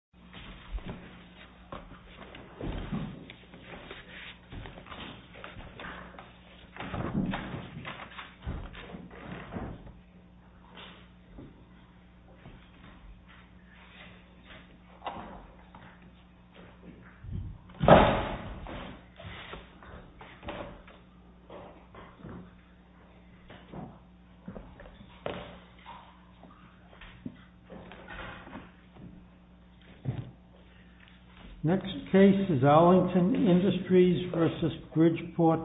Bridgeport Fittings, Inc. v. Bridgeport Fittings, Inc. Next case is Arlington Industries v. Bridgeport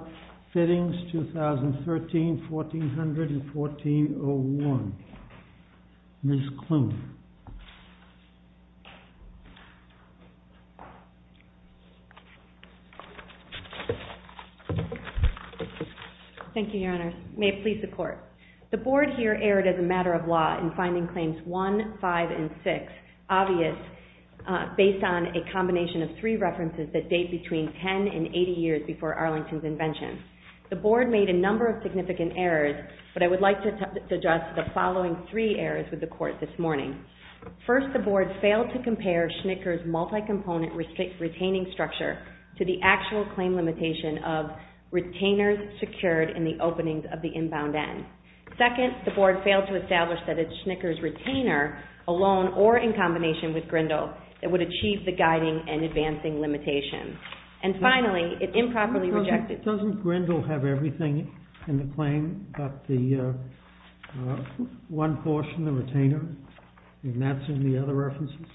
Fittings, 2013-1400-1401. Ms. Klune. Thank you, Your Honors. May it please the Court. The Board here erred as a matter of law in finding Claims 1, 5, and 6 obvious based on a combination of three references that date between 10 and 80 years before Arlington's invention. The Board made a number of significant errors, but I would like to address the following three errors with the Court this morning. First, the Board failed to compare Schnicker's multi-component retaining structure to the actual claim limitation of retainers secured in the openings of the inbound end. Second, the Board failed to establish that it's Schnicker's retainer alone or in combination with Grindle that would achieve the guiding and advancing limitation. And finally, it improperly rejected... Doesn't Grindle have everything in the claim, but the one portion, the retainer, and that's in the other references?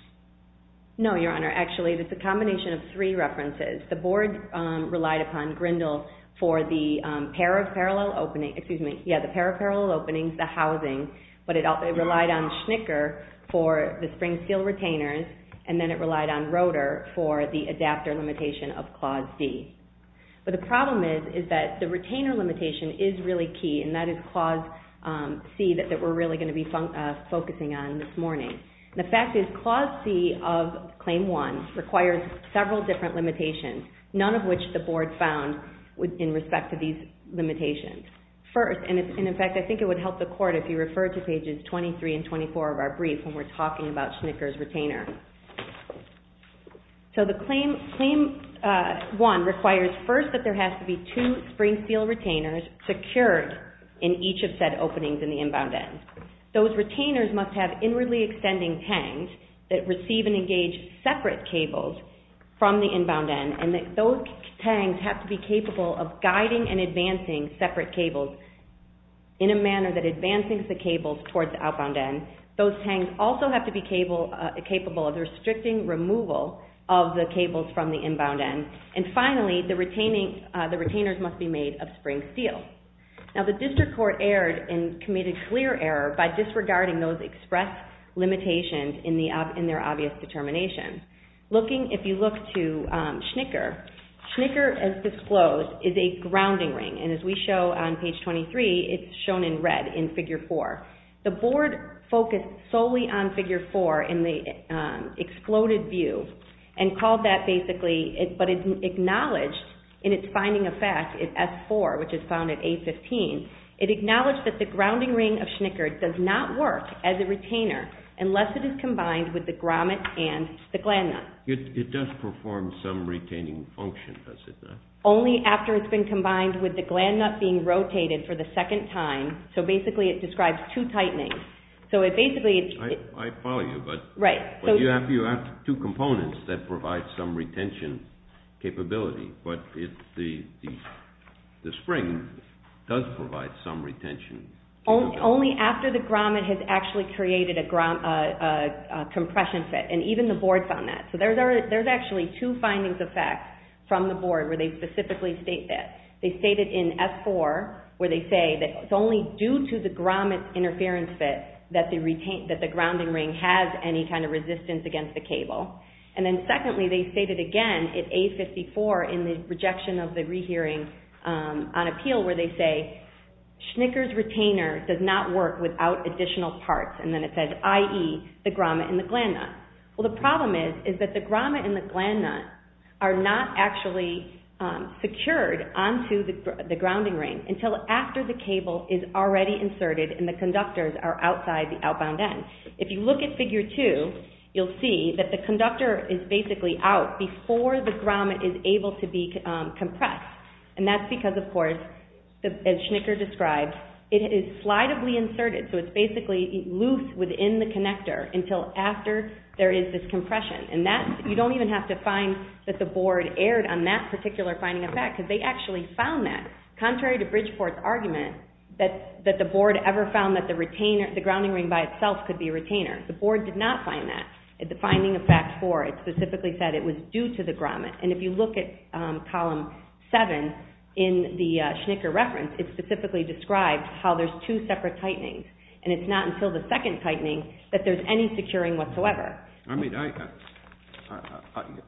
No, Your Honor. Actually, it's a combination of three references. The Board relied upon Grindle for the pair of parallel openings, the housing, but it relied on Schnicker for the spring steel retainers, and then it relied on Rotor for the adapter limitation of Clause D. But the problem is that the retainer limitation is really key, and that is Clause C that we're really going to be focusing on this morning. The fact is Clause C of Claim 1 requires several different limitations, none of which the Board found in respect to these limitations. First, and in fact, I think it would help the Court if you refer to pages 23 and 24 of our brief when we're talking about Schnicker's retainer. So the Claim 1 requires first that there has to be two spring steel retainers secured in each of said openings in the inbound end. Those retainers must have inwardly extending tangs that receive and engage separate cables from the inbound end, and that those tangs have to be capable of guiding and advancing separate cables in a manner that advances the cables towards the outbound end. Those tangs also have to be capable of restricting removal of the cables from the inbound end. And finally, the retainers must be made of spring steel. Now, the District Court erred and committed clear error by disregarding those express limitations in their obvious determination. If you look to Schnicker, Schnicker, as disclosed, is a grounding ring. And as we show on page 23, it's shown in red in Figure 4. The Board focused solely on Figure 4 in the exploded view and called that basically, but it acknowledged in its finding of fact, S-4, which is found at A-15. It acknowledged that the grounding ring of Schnicker does not work as a retainer unless it is combined with the grommet and the gland nut. It does perform some retaining function, does it not? Only after it's been combined with the gland nut being rotated for the second time. So basically, it describes two tightenings. I follow you, but you have two components that provide some retention capability, but the spring does provide some retention capability. Only after the grommet has actually created a compression fit, and even the Board found that. So there's actually two findings of fact from the Board where they specifically state that. They state it in S-4 where they say that it's only due to the grommet interference fit that the grounding ring has any kind of resistance against the cable. And then secondly, they state it again in A-54 in the rejection of the rehearing on appeal where they say, Schnicker's retainer does not work without additional parts. And then it says, i.e., the grommet and the gland nut. Well, the problem is that the grommet and the gland nut are not actually secured onto the grounding ring until after the cable is already inserted and the conductors are outside the outbound end. If you look at Figure 2, you'll see that the conductor is basically out before the grommet is able to be compressed. And that's because, of course, as Schnicker described, it is slidably inserted. So it's basically loose within the connector until after there is this compression. And that, you don't even have to find that the Board erred on that particular finding of fact because they actually found that. Contrary to Bridgeport's argument that the Board ever found that the retaining, the grounding ring by itself could be a retainer. The Board did not find that at the finding of fact 4. It specifically said it was due to the grommet. And if you look at Column 7 in the Schnicker reference, it specifically described how there's two separate tightenings. And it's not until the second tightening that there's any securing whatsoever. I mean, I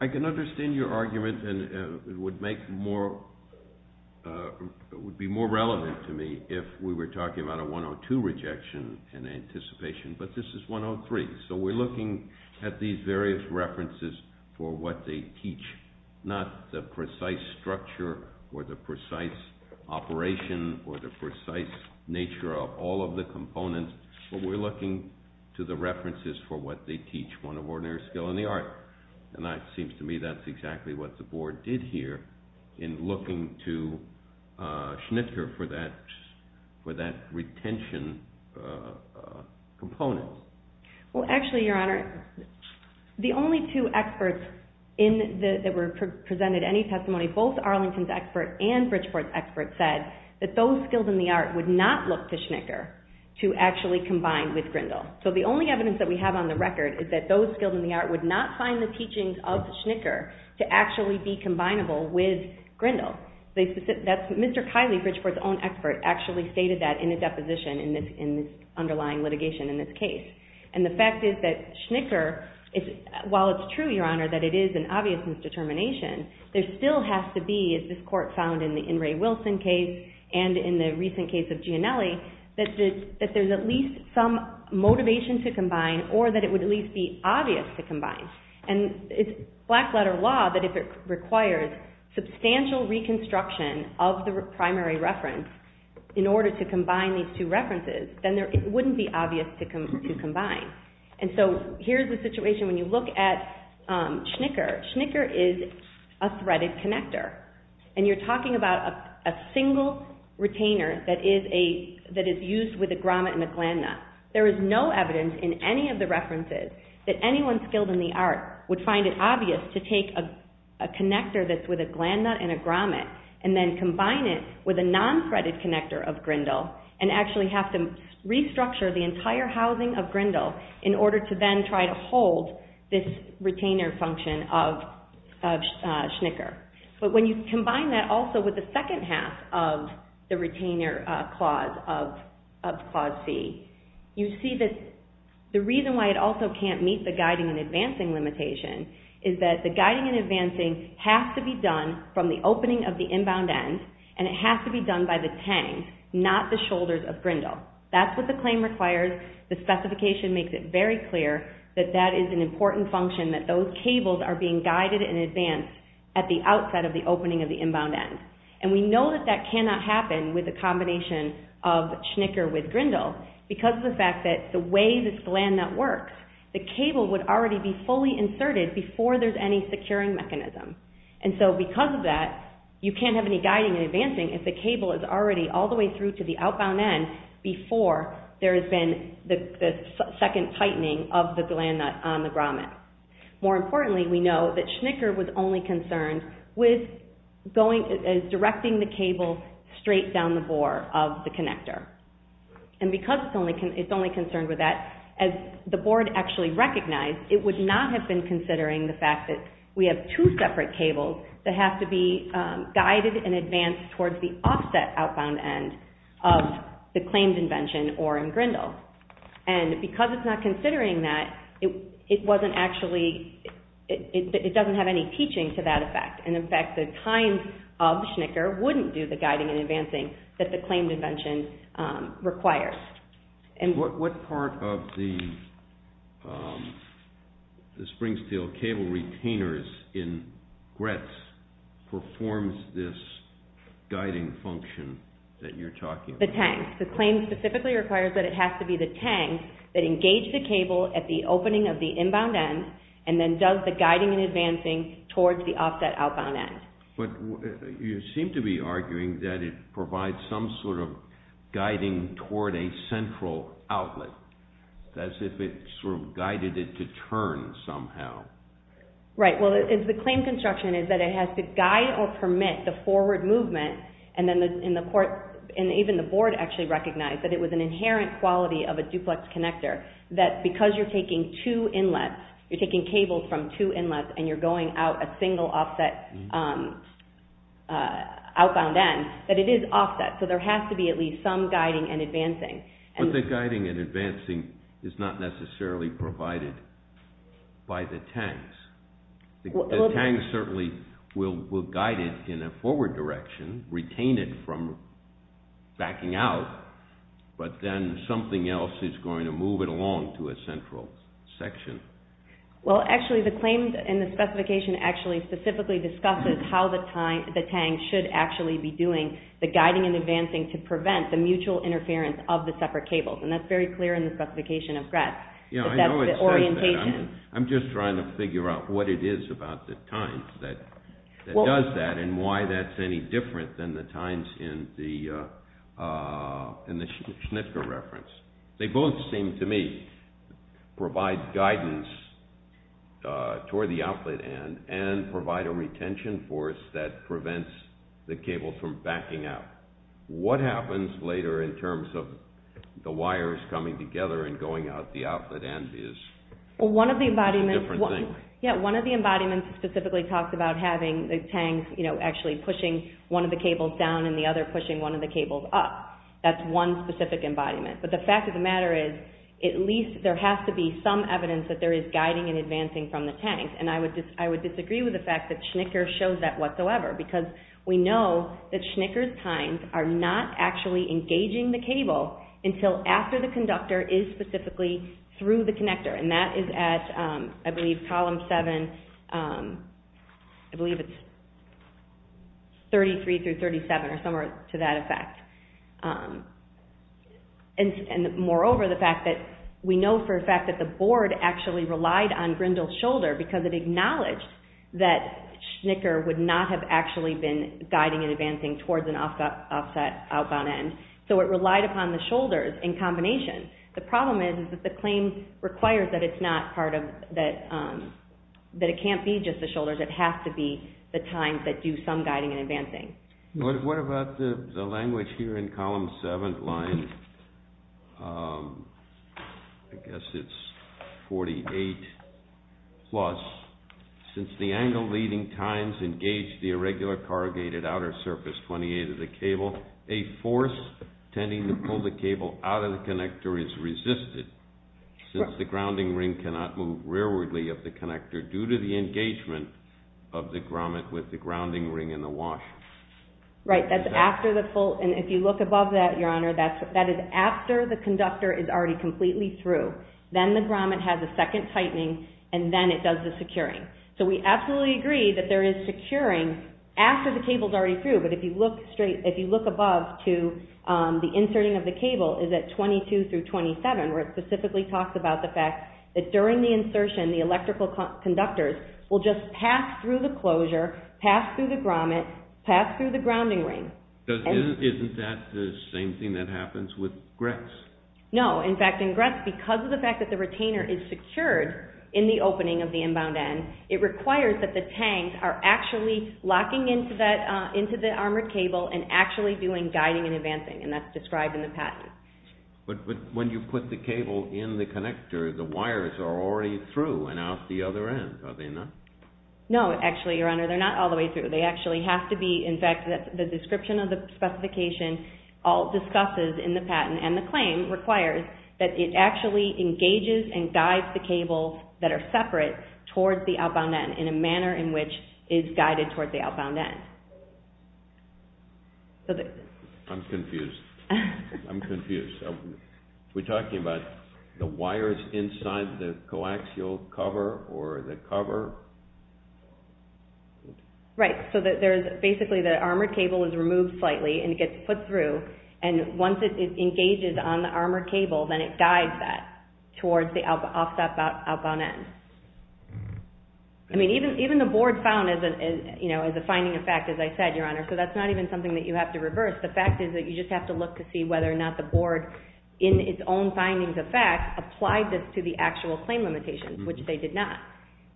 can understand your argument and it would make more, it would be more relevant to me if we were talking about a 102 rejection in anticipation. But this is 103. So we're looking at these various references for what they teach, not the precise structure or the precise operation or the precise nature of all of the components. But we're looking to the references for what they teach, one of ordinary skill and the art. And that seems to me that's exactly what the Board did here in looking to Schnicker for that retention component. Well, actually, Your Honor, the only two experts that were presented any testimony, both Arlington's expert and Bridgeport's expert, said that those skills and the art would not look to Schnicker to actually combine with Grindle. So the only evidence that we have on the record is that those skills and the art would not find the teachings of Schnicker to actually be combinable with Grindle. Mr. Kiley, Bridgeport's own expert, actually stated that in a deposition in this underlying litigation in this case. And the fact is that Schnicker, while it's true, Your Honor, that it is an obvious misdetermination, there still has to be, as this court found in the In re Wilson case and in the recent case of Gianelli, that there's at least some motivation to combine or that it would at least be obvious to combine. And it's black letter law that if it requires substantial reconstruction of the primary reference in order to combine these two references, then it wouldn't be obvious to combine. And so here's the situation when you look at Schnicker. Schnicker is a threaded connector. And you're talking about a single retainer that is used with a grommet and a gland nut. There is no evidence in any of the references that anyone skilled in the art would find it obvious to take a connector that's with a gland nut and a grommet and then combine it with a non-threaded connector of Grindle and actually have to restructure the entire housing of Grindle in order to then try to hold this retainer function of Schnicker. But when you combine that also with the second half of the retainer clause of Clause C, you see that the reason why it also can't meet the guiding and advancing limitation is that the guiding and advancing has to be done from the opening of the inbound end and it has to be done by the tang, not the shoulders of Grindle. That's what the claim requires. The specification makes it very clear that that is an important function, that those cables are being guided in advance at the outset of the opening of the inbound end. And we know that that cannot happen with a combination of Schnicker with Grindle because of the fact that the way this gland nut works, the cable would already be fully inserted before there's any securing mechanism. And so because of that, you can't have any guiding and advancing if the cable is already all the way through to the outbound end before there has been the second tightening of the gland nut on the grommet. More importantly, we know that Schnicker was only concerned with directing the cable straight down the bore of the connector. And because it's only concerned with that, as the board actually recognized, it would not have been considering the fact that we have two separate cables that have to be guided in advance towards the offset outbound end of the claimed invention or in Grindle. And because it's not considering that, it doesn't have any teaching to that effect. And in fact, the kinds of Schnicker wouldn't do the guiding and advancing that the claimed invention requires. What part of the Springsteel cable retainers in GRETS performs this guiding function that you're talking about? The tang. The claim specifically requires that it has to be the tang that engaged the cable at the opening of the inbound end and then does the guiding and advancing towards the offset outbound end. But you seem to be arguing that it provides some sort of guiding toward a central outlet, as if it sort of guided it to turn somehow. Right. Well, the claim construction is that it has to guide or permit the forward movement, and even the board actually recognized that it was an inherent quality of a duplex connector that because you're taking two inlets, you're taking cables from two inlets, and you're going out a single offset outbound end, that it is offset. So there has to be at least some guiding and advancing. But the guiding and advancing is not necessarily provided by the tangs. The tangs certainly will guide it in a forward direction, retain it from backing out, but then something else is going to move it along to a central section. Well, actually, the claims in the specification actually specifically discusses how the tang should actually be doing the guiding and advancing to prevent the mutual interference of the separate cables. And that's very clear in the specification of GRETS. Yeah, I know it says that. I'm just trying to figure out what it is about the tangs that does that and why that's any different than the tangs in the SCHNITKA reference. They both seem to me provide guidance toward the outlet end and provide a retention force that prevents the cable from backing out. What happens later in terms of the wires coming together and going out the outlet end is a different thing. Yeah, one of the embodiments specifically talks about having the tangs actually pushing one of the cables down and the other pushing one of the cables up. That's one specific embodiment. But the fact of the matter is at least there has to be some evidence that there is guiding and advancing from the tangs. And I would disagree with the fact that SCHNITKA shows that whatsoever because we know that SCHNITKA's tines are not actually engaging the cable until after the conductor is specifically through the connector. And that is at, I believe, column 7, I believe it's 33 through 37 or somewhere to that effect. And moreover, the fact that we know for a fact that the board actually relied on Grindle's shoulder because it acknowledged that SCHNITKA would not have actually been guiding and advancing towards an offset outbound end. So it relied upon the shoulders in combination. The problem is that the claim requires that it's not part of, that it can't be just the shoulders. It has to be the tines that do some guiding and advancing. What about the language here in column 7, line, I guess it's 48 plus. Since the angle leading tines engage the irregular corrugated outer surface 28 of the cable, a force tending to pull the cable out of the connector is resisted since the grounding ring cannot move rearwardly of the connector due to the engagement of the grommet with the grounding ring in the wash. Right, that's after the pull. And if you look above that, Your Honor, that is after the conductor is already completely through. Then the grommet has a second tightening, and then it does the securing. So we absolutely agree that there is securing after the cable's already through. But if you look straight, if you look above to the inserting of the cable is at 22 through 27 where it specifically talks about the fact that during the insertion, the electrical conductors will just pass through the closure, pass through the grommet, pass through the grounding ring. Isn't that the same thing that happens with GRETS? No. In fact, in GRETS, because of the fact that the retainer is secured in the opening of the inbound end, it requires that the tanks are actually locking into the armored cable and actually doing guiding and advancing, and that's described in the patent. But when you put the cable in the connector, the wires are already through and out the other end, are they not? No, actually, Your Honor, they're not all the way through. They actually have to be, in fact, the description of the specification all discusses in the patent, and the claim requires that it actually engages and guides the cables that are separate towards the outbound end in a manner in which it's guided towards the outbound end. I'm confused. I'm confused. We're talking about the wires inside the coaxial cover or the cover? Right, so basically the armored cable is removed slightly and gets put through, and once it engages on the armored cable, then it guides that towards the offset outbound end. I mean, even the board found as a finding of fact, as I said, Your Honor, so that's not even something that you have to reverse. The fact is that you just have to look to see whether or not the board, in its own findings of fact, applied this to the actual claim limitations, which they did not.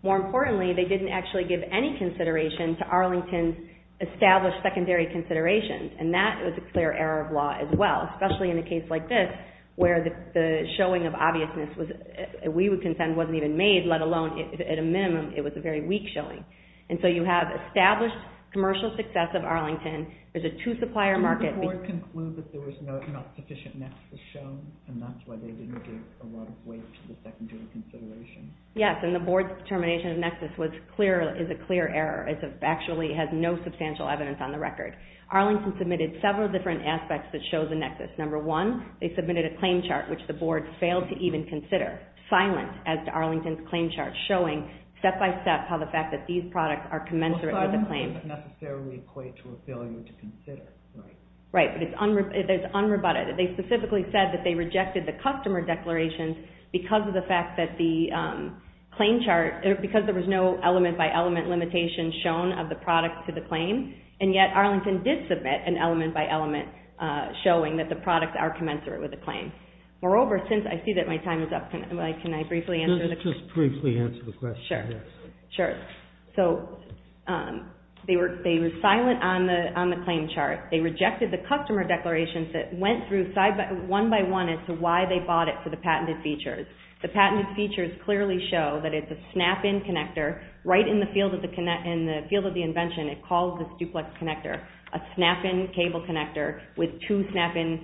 More importantly, they didn't actually give any consideration to Arlington's established secondary considerations, and that was a clear error of law as well, especially in a case like this, where the showing of obviousness, we would contend, wasn't even made, let alone, at a minimum, it was a very weak showing. And so you have established commercial success of Arlington. There's a two-supplier market. Did the board conclude that there was not sufficient nexus shown, and that's why they didn't give a lot of weight to the secondary consideration? Yes, and the board's determination of nexus is a clear error. It actually has no substantial evidence on the record. Arlington submitted several different aspects that show the nexus. Number one, they submitted a claim chart, which the board failed to even consider, silent, as to Arlington's claim chart, showing step-by-step how the fact that these products are commensurate with the claim. Well, silent doesn't necessarily equate to a failure to consider, right? Right, but it's unrebutted. They specifically said that they rejected the customer declarations because of the fact that the claim chart, because there was no element-by-element limitation shown of the product to the claim, and yet Arlington did submit an element-by-element showing that the products are commensurate with the claim. Moreover, since I see that my time is up, can I briefly answer the question? Just briefly answer the question, yes. Sure, sure. So they were silent on the claim chart. They rejected the customer declarations that went through one-by-one as to why they bought it for the patented features. The patented features clearly show that it's a snap-in connector, right in the field of the invention. It calls this duplex connector a snap-in cable connector with two snap-in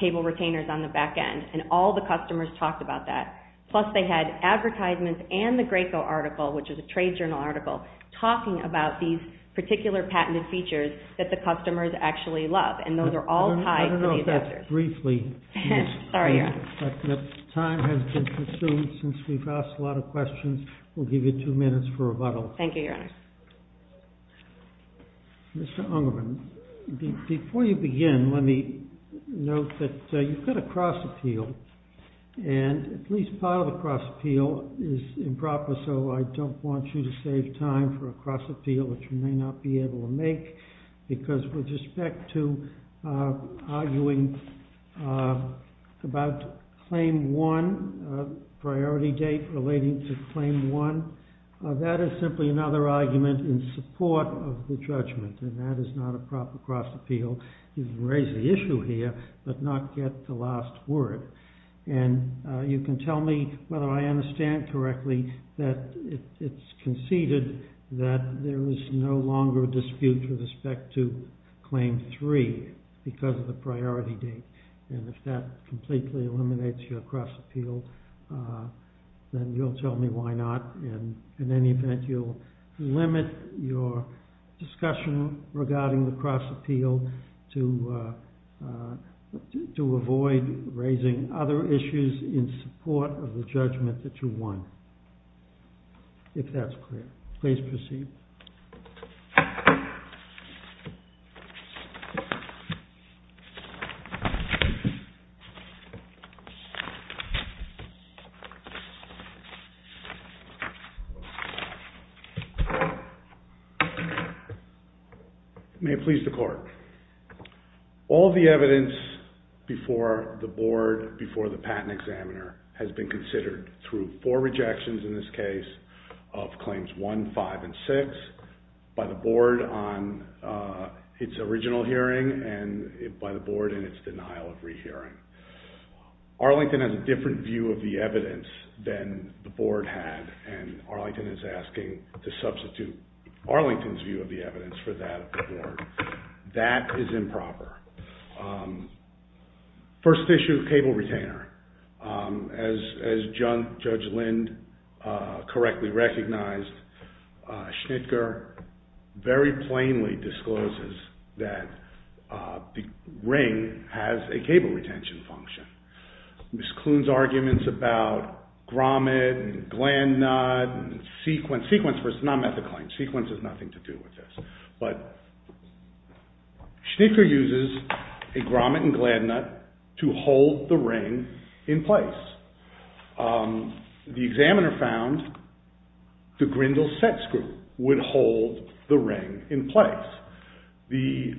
cable retainers on the back end, and all the customers talked about that. Plus, they had advertisements and the Graco article, which is a trade journal article, talking about these particular patented features that the customers actually love, and those are all tied to these factors. I don't know if that's briefly. Sorry, yeah. But time has been consumed since we've asked a lot of questions. We'll give you two minutes for rebuttal. Thank you, Your Honor. Mr. Ungerman, before you begin, let me note that you've got a cross-appeal, and at least part of the cross-appeal is improper, so I don't want you to save time for a cross-appeal, which you may not be able to make, because with respect to arguing about claim one, priority date relating to claim one, that is simply another argument in support of the judgment, and that is not a proper cross-appeal. You've raised the issue here, but not yet the last word, and you can tell me whether I understand correctly that it's conceded that there is no longer a dispute with respect to claim three because of the priority date, and if that completely eliminates your cross-appeal, then you'll tell me why not, and in any event, you'll limit your discussion regarding the cross-appeal to avoid raising other issues in support of the judgment that you want, if that's clear. Please proceed. Thank you. May it please the Court. All the evidence before the board, before the patent examiner, has been considered through four rejections in this case of claims one, five, and six, by the board on its original hearing and by the board in its denial of rehearing. Arlington has a different view of the evidence than the board had, and Arlington is asking to substitute Arlington's view of the evidence for that of the board. That is improper. First issue, cable retainer. As Judge Lind correctly recognized, Schnitger very plainly discloses that the ring has a cable retention function. Ms. Kloon's arguments about grommet and gland nut and sequence versus non-method claims, sequence has nothing to do with this, but Schnitger uses a grommet and gland nut to hold the ring in place. The examiner found the Grindle sex group would hold the ring in place. The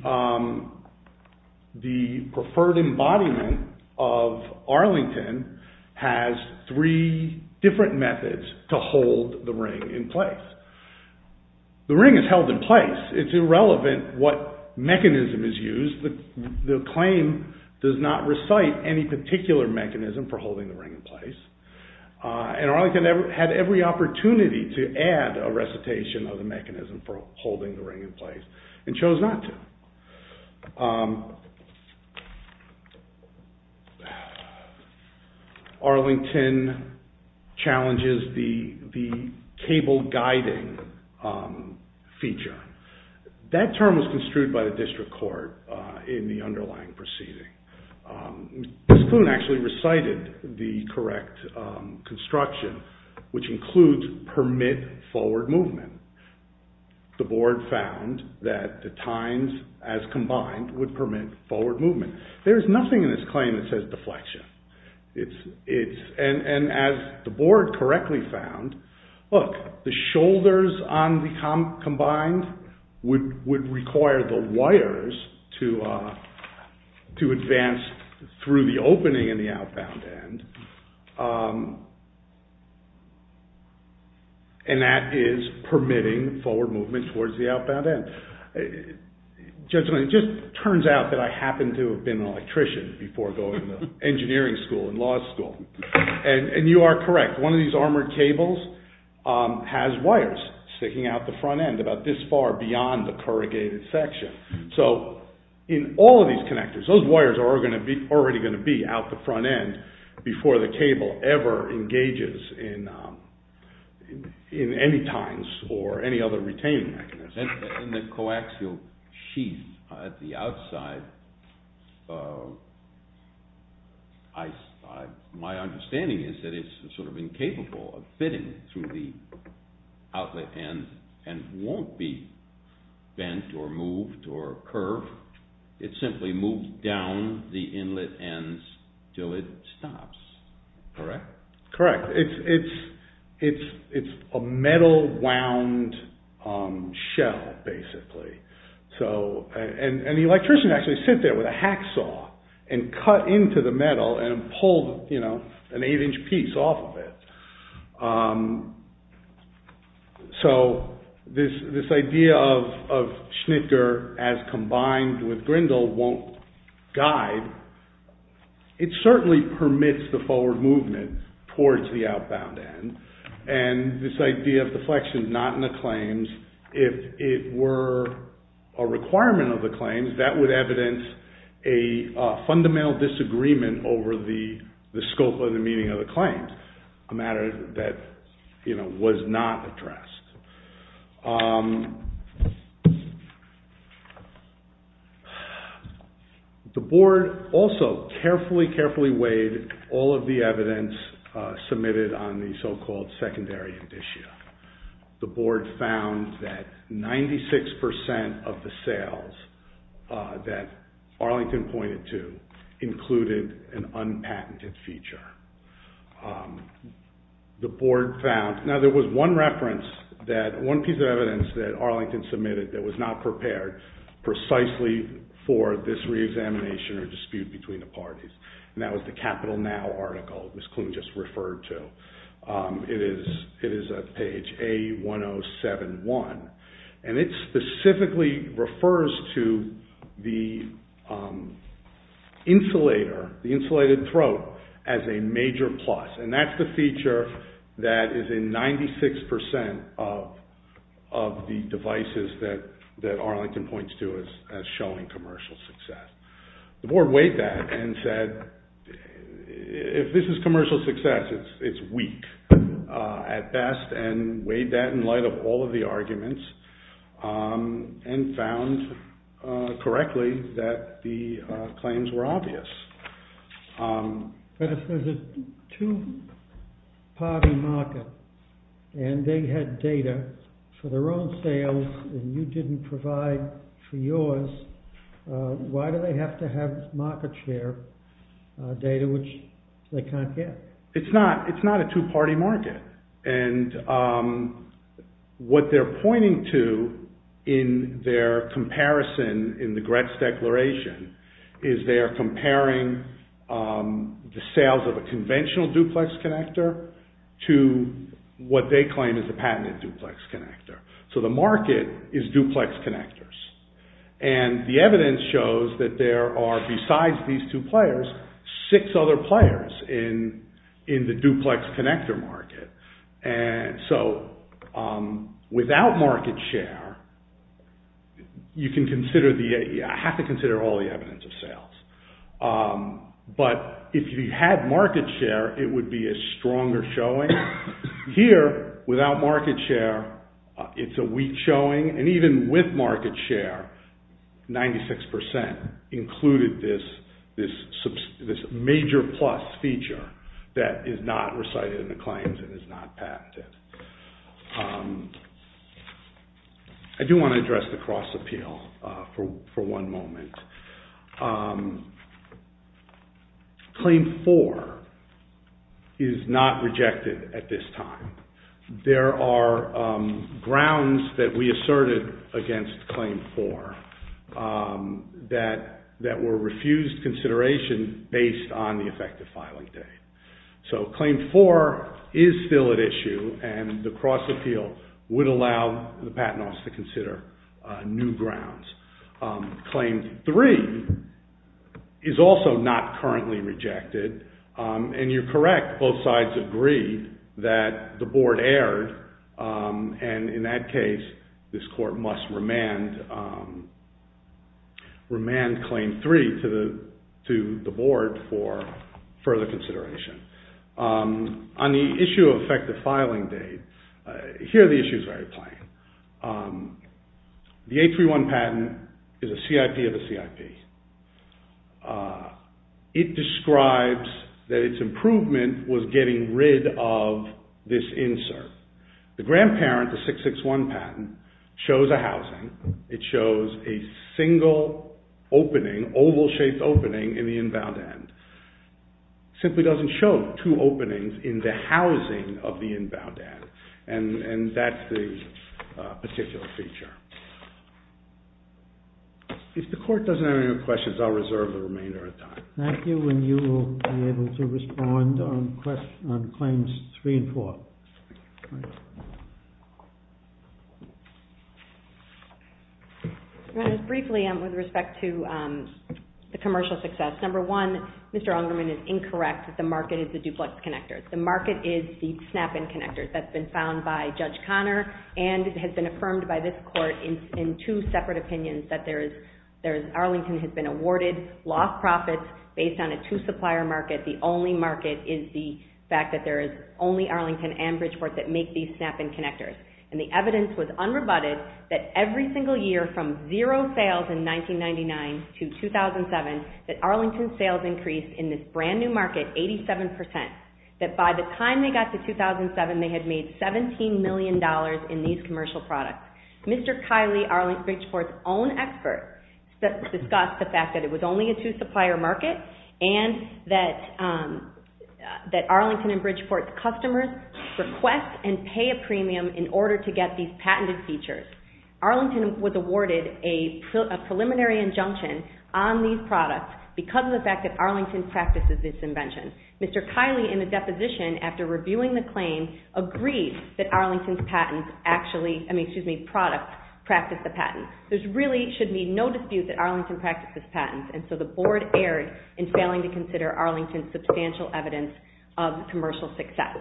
preferred embodiment of Arlington has three different methods to hold the ring in place. The ring is held in place. It's irrelevant what mechanism is used. The claim does not recite any particular mechanism for holding the ring in place, and Arlington had every opportunity to add a recitation of the mechanism for holding the ring in place and chose not to. Arlington challenges the cable guiding feature. That term was construed by the district court in the underlying proceeding. Ms. Kloon actually recited the correct construction, which includes permit forward movement. The board found that the tines as combined would permit forward movement. There is nothing in this claim that says deflection. And as the board correctly found, look, the shoulders on the combined would require the wires to advance through the opening in the outbound end, and that is permitting forward movement towards the outbound end. It just turns out that I happen to have been an electrician before going to engineering school and law school, and you are correct. One of these armored cables has wires sticking out the front end about this far beyond the corrugated section. So in all of these connectors, those wires are already going to be out the front end before the cable ever engages in any tines or any other retaining mechanism. In the coaxial sheath at the outside, my understanding is that it's sort of incapable of fitting through the outlet end and won't be bent or moved or curved. It simply moves down the inlet ends until it stops. Correct? Correct. It's a metal-wound shell, basically. And the electrician actually sit there with a hacksaw and cut into the metal and pulled an 8-inch piece off of it. So this idea of schnittger as combined with grindle won't guide. It certainly permits the forward movement towards the outbound end, and this idea of deflection is not in the claims if it were a requirement of the claims, that would evidence a fundamental disagreement over the scope and the meaning of the claims, a matter that was not addressed. The board also carefully, carefully weighed all of the evidence submitted on the so-called secondary indicia. The board found that 96% of the sales that Arlington pointed to included an unpatented feature. The board found... Now, there was one reference that... one piece of evidence that Arlington submitted that was not prepared precisely for this re-examination or dispute between the parties, and that was the Capital Now article Ms. Klune just referred to. It is page A1071, and it specifically refers to the insulator, the insulated throat, as a major plus, and that's the feature that is in 96% of the devices that Arlington points to as showing commercial success. The board weighed that and said, if this is commercial success, it's weak at best, and weighed that in light of all of the arguments and found correctly that the claims were obvious. But if there's a two-party market and they had data for their own sales and you didn't provide for yours, why do they have to have market share data which they can't get? It's not a two-party market, and what they're pointing to in their comparison in the Gretz Declaration is they're comparing the sales of a conventional duplex connector to what they claim is a patented duplex connector. So the market is duplex connectors, and the evidence shows that there are, besides these two players, six other players in the duplex connector market. So without market share, you have to consider all the evidence of sales. But if you had market share, it would be a stronger showing. Here, without market share, it's a weak showing, and even with market share, 96% included this major plus feature that is not recited in the claims and is not patented. I do want to address the cross-appeal for one moment. Claim 4 is not rejected at this time. There are grounds that we asserted against Claim 4 that were refused consideration based on the effective filing date. So Claim 4 is still at issue, and the cross-appeal would allow the patent office to consider new grounds. Claim 3 is also not currently rejected, and you're correct, both sides agreed that the board erred, and in that case, this court must remand Claim 3 to the board for further consideration. On the issue of effective filing date, here the issue is very plain. The 831 patent is a CIP of a CIP. It describes that its improvement was getting rid of this insert. The grandparent, the 661 patent, shows a housing. It shows a single opening, oval-shaped opening in the inbound end. It simply doesn't show two openings in the housing of the inbound end, and that's the particular feature. If the court doesn't have any other questions, I'll reserve the remainder of time. Thank you, and you will be able to respond on Claims 3 and 4. Briefly, with respect to the commercial success, number one, Mr. Ungerman is incorrect that the market is the duplex connectors. The market is the snap-in connectors that's been found by Judge Connor, and it has been affirmed by this court in two separate opinions that Arlington has been awarded, lost profits based on a two-supplier market. The only market is the fact that there is only Arlington and Bridgeport that make these snap-in connectors, and the evidence was unrebutted that every single year from zero sales in 1999 to 2007, that Arlington's sales increased in this brand-new market 87%, that by the time they got to 2007, they had made $17 million in these commercial products. Mr. Kiley, Bridgeport's own expert, discussed the fact that it was only a two-supplier market and that Arlington and Bridgeport's customers request and pay a premium in order to get these patented features. Arlington was awarded a preliminary injunction on these products because of the fact that Arlington practices this invention. Mr. Kiley, in a deposition after reviewing the claim, agreed that Arlington's products practice the patent. There really should be no dispute that Arlington practices patents, and so the Board erred in failing to consider Arlington's substantial evidence of commercial success.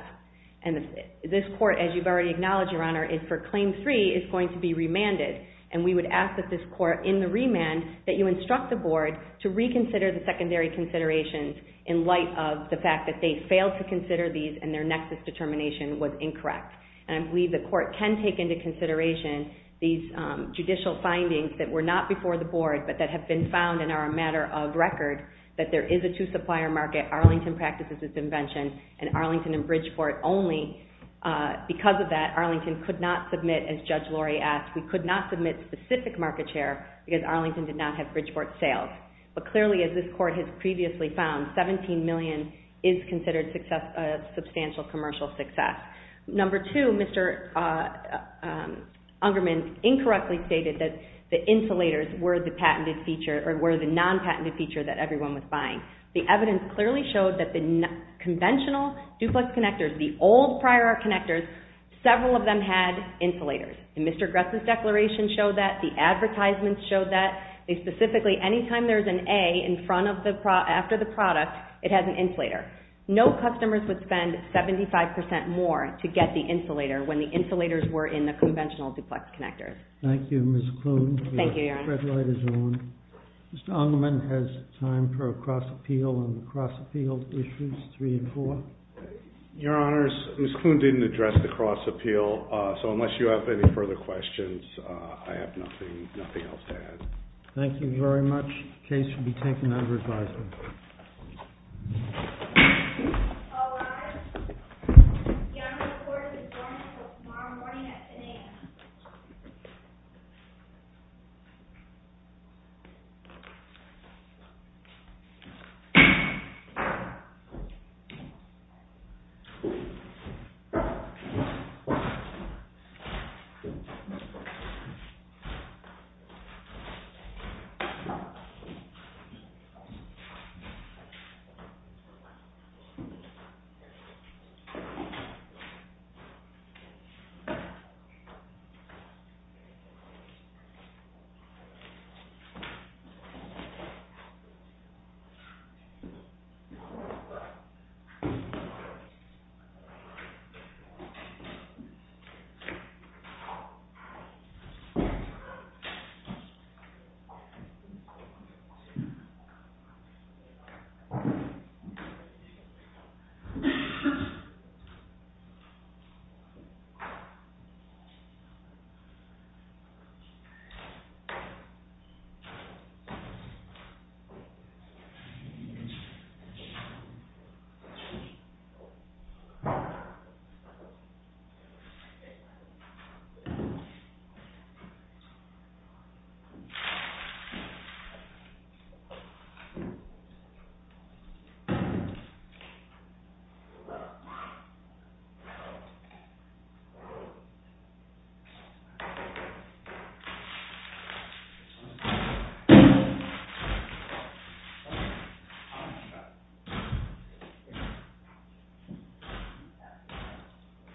And this Court, as you've already acknowledged, Your Honor, for Claim 3 is going to be remanded, and we would ask that this Court, in the remand, that you instruct the Board to reconsider the secondary considerations in light of the fact that they failed to consider these and their nexus determination was incorrect. And I believe the Court can take into consideration these judicial findings that were not before the Board but that have been found and are a matter of record, that there is a two-supplier market, Arlington practices this invention, and Arlington and Bridgeport only, because of that, Arlington could not submit, as Judge Lori asked, we could not submit specific market share because Arlington did not have Bridgeport sales. But clearly, as this Court has previously found, $17 million is considered substantial commercial success. Number two, Mr. Ungerman incorrectly stated that the insulators were the non-patented feature that everyone was buying. The evidence clearly showed that the conventional duplex connectors, the old prior art connectors, several of them had insulators. Mr. Gress' declaration showed that, the advertisements showed that, they specifically, anytime there's an A after the product, it has an insulator. No customers would spend 75% more to get the insulator when the insulators were in the conventional duplex connectors. Thank you, Ms. Kloon. Thank you, Your Honor. Your red light is on. Mr. Ungerman has time for a cross-appeal on the cross-appeal issues, three and four. Your Honors, Ms. Kloon didn't address the cross-appeal, so unless you have any further questions, I have nothing else to add. Thank you very much. Case should be taken under advisement. All rise. Your Honor, the court is adjourned until tomorrow morning at 10 a.m. Thank you, Your Honor. Thank you. Your Honor. What's this all about? Oh, yeah. They're getting our bags. Yeah, please. Oh, yeah.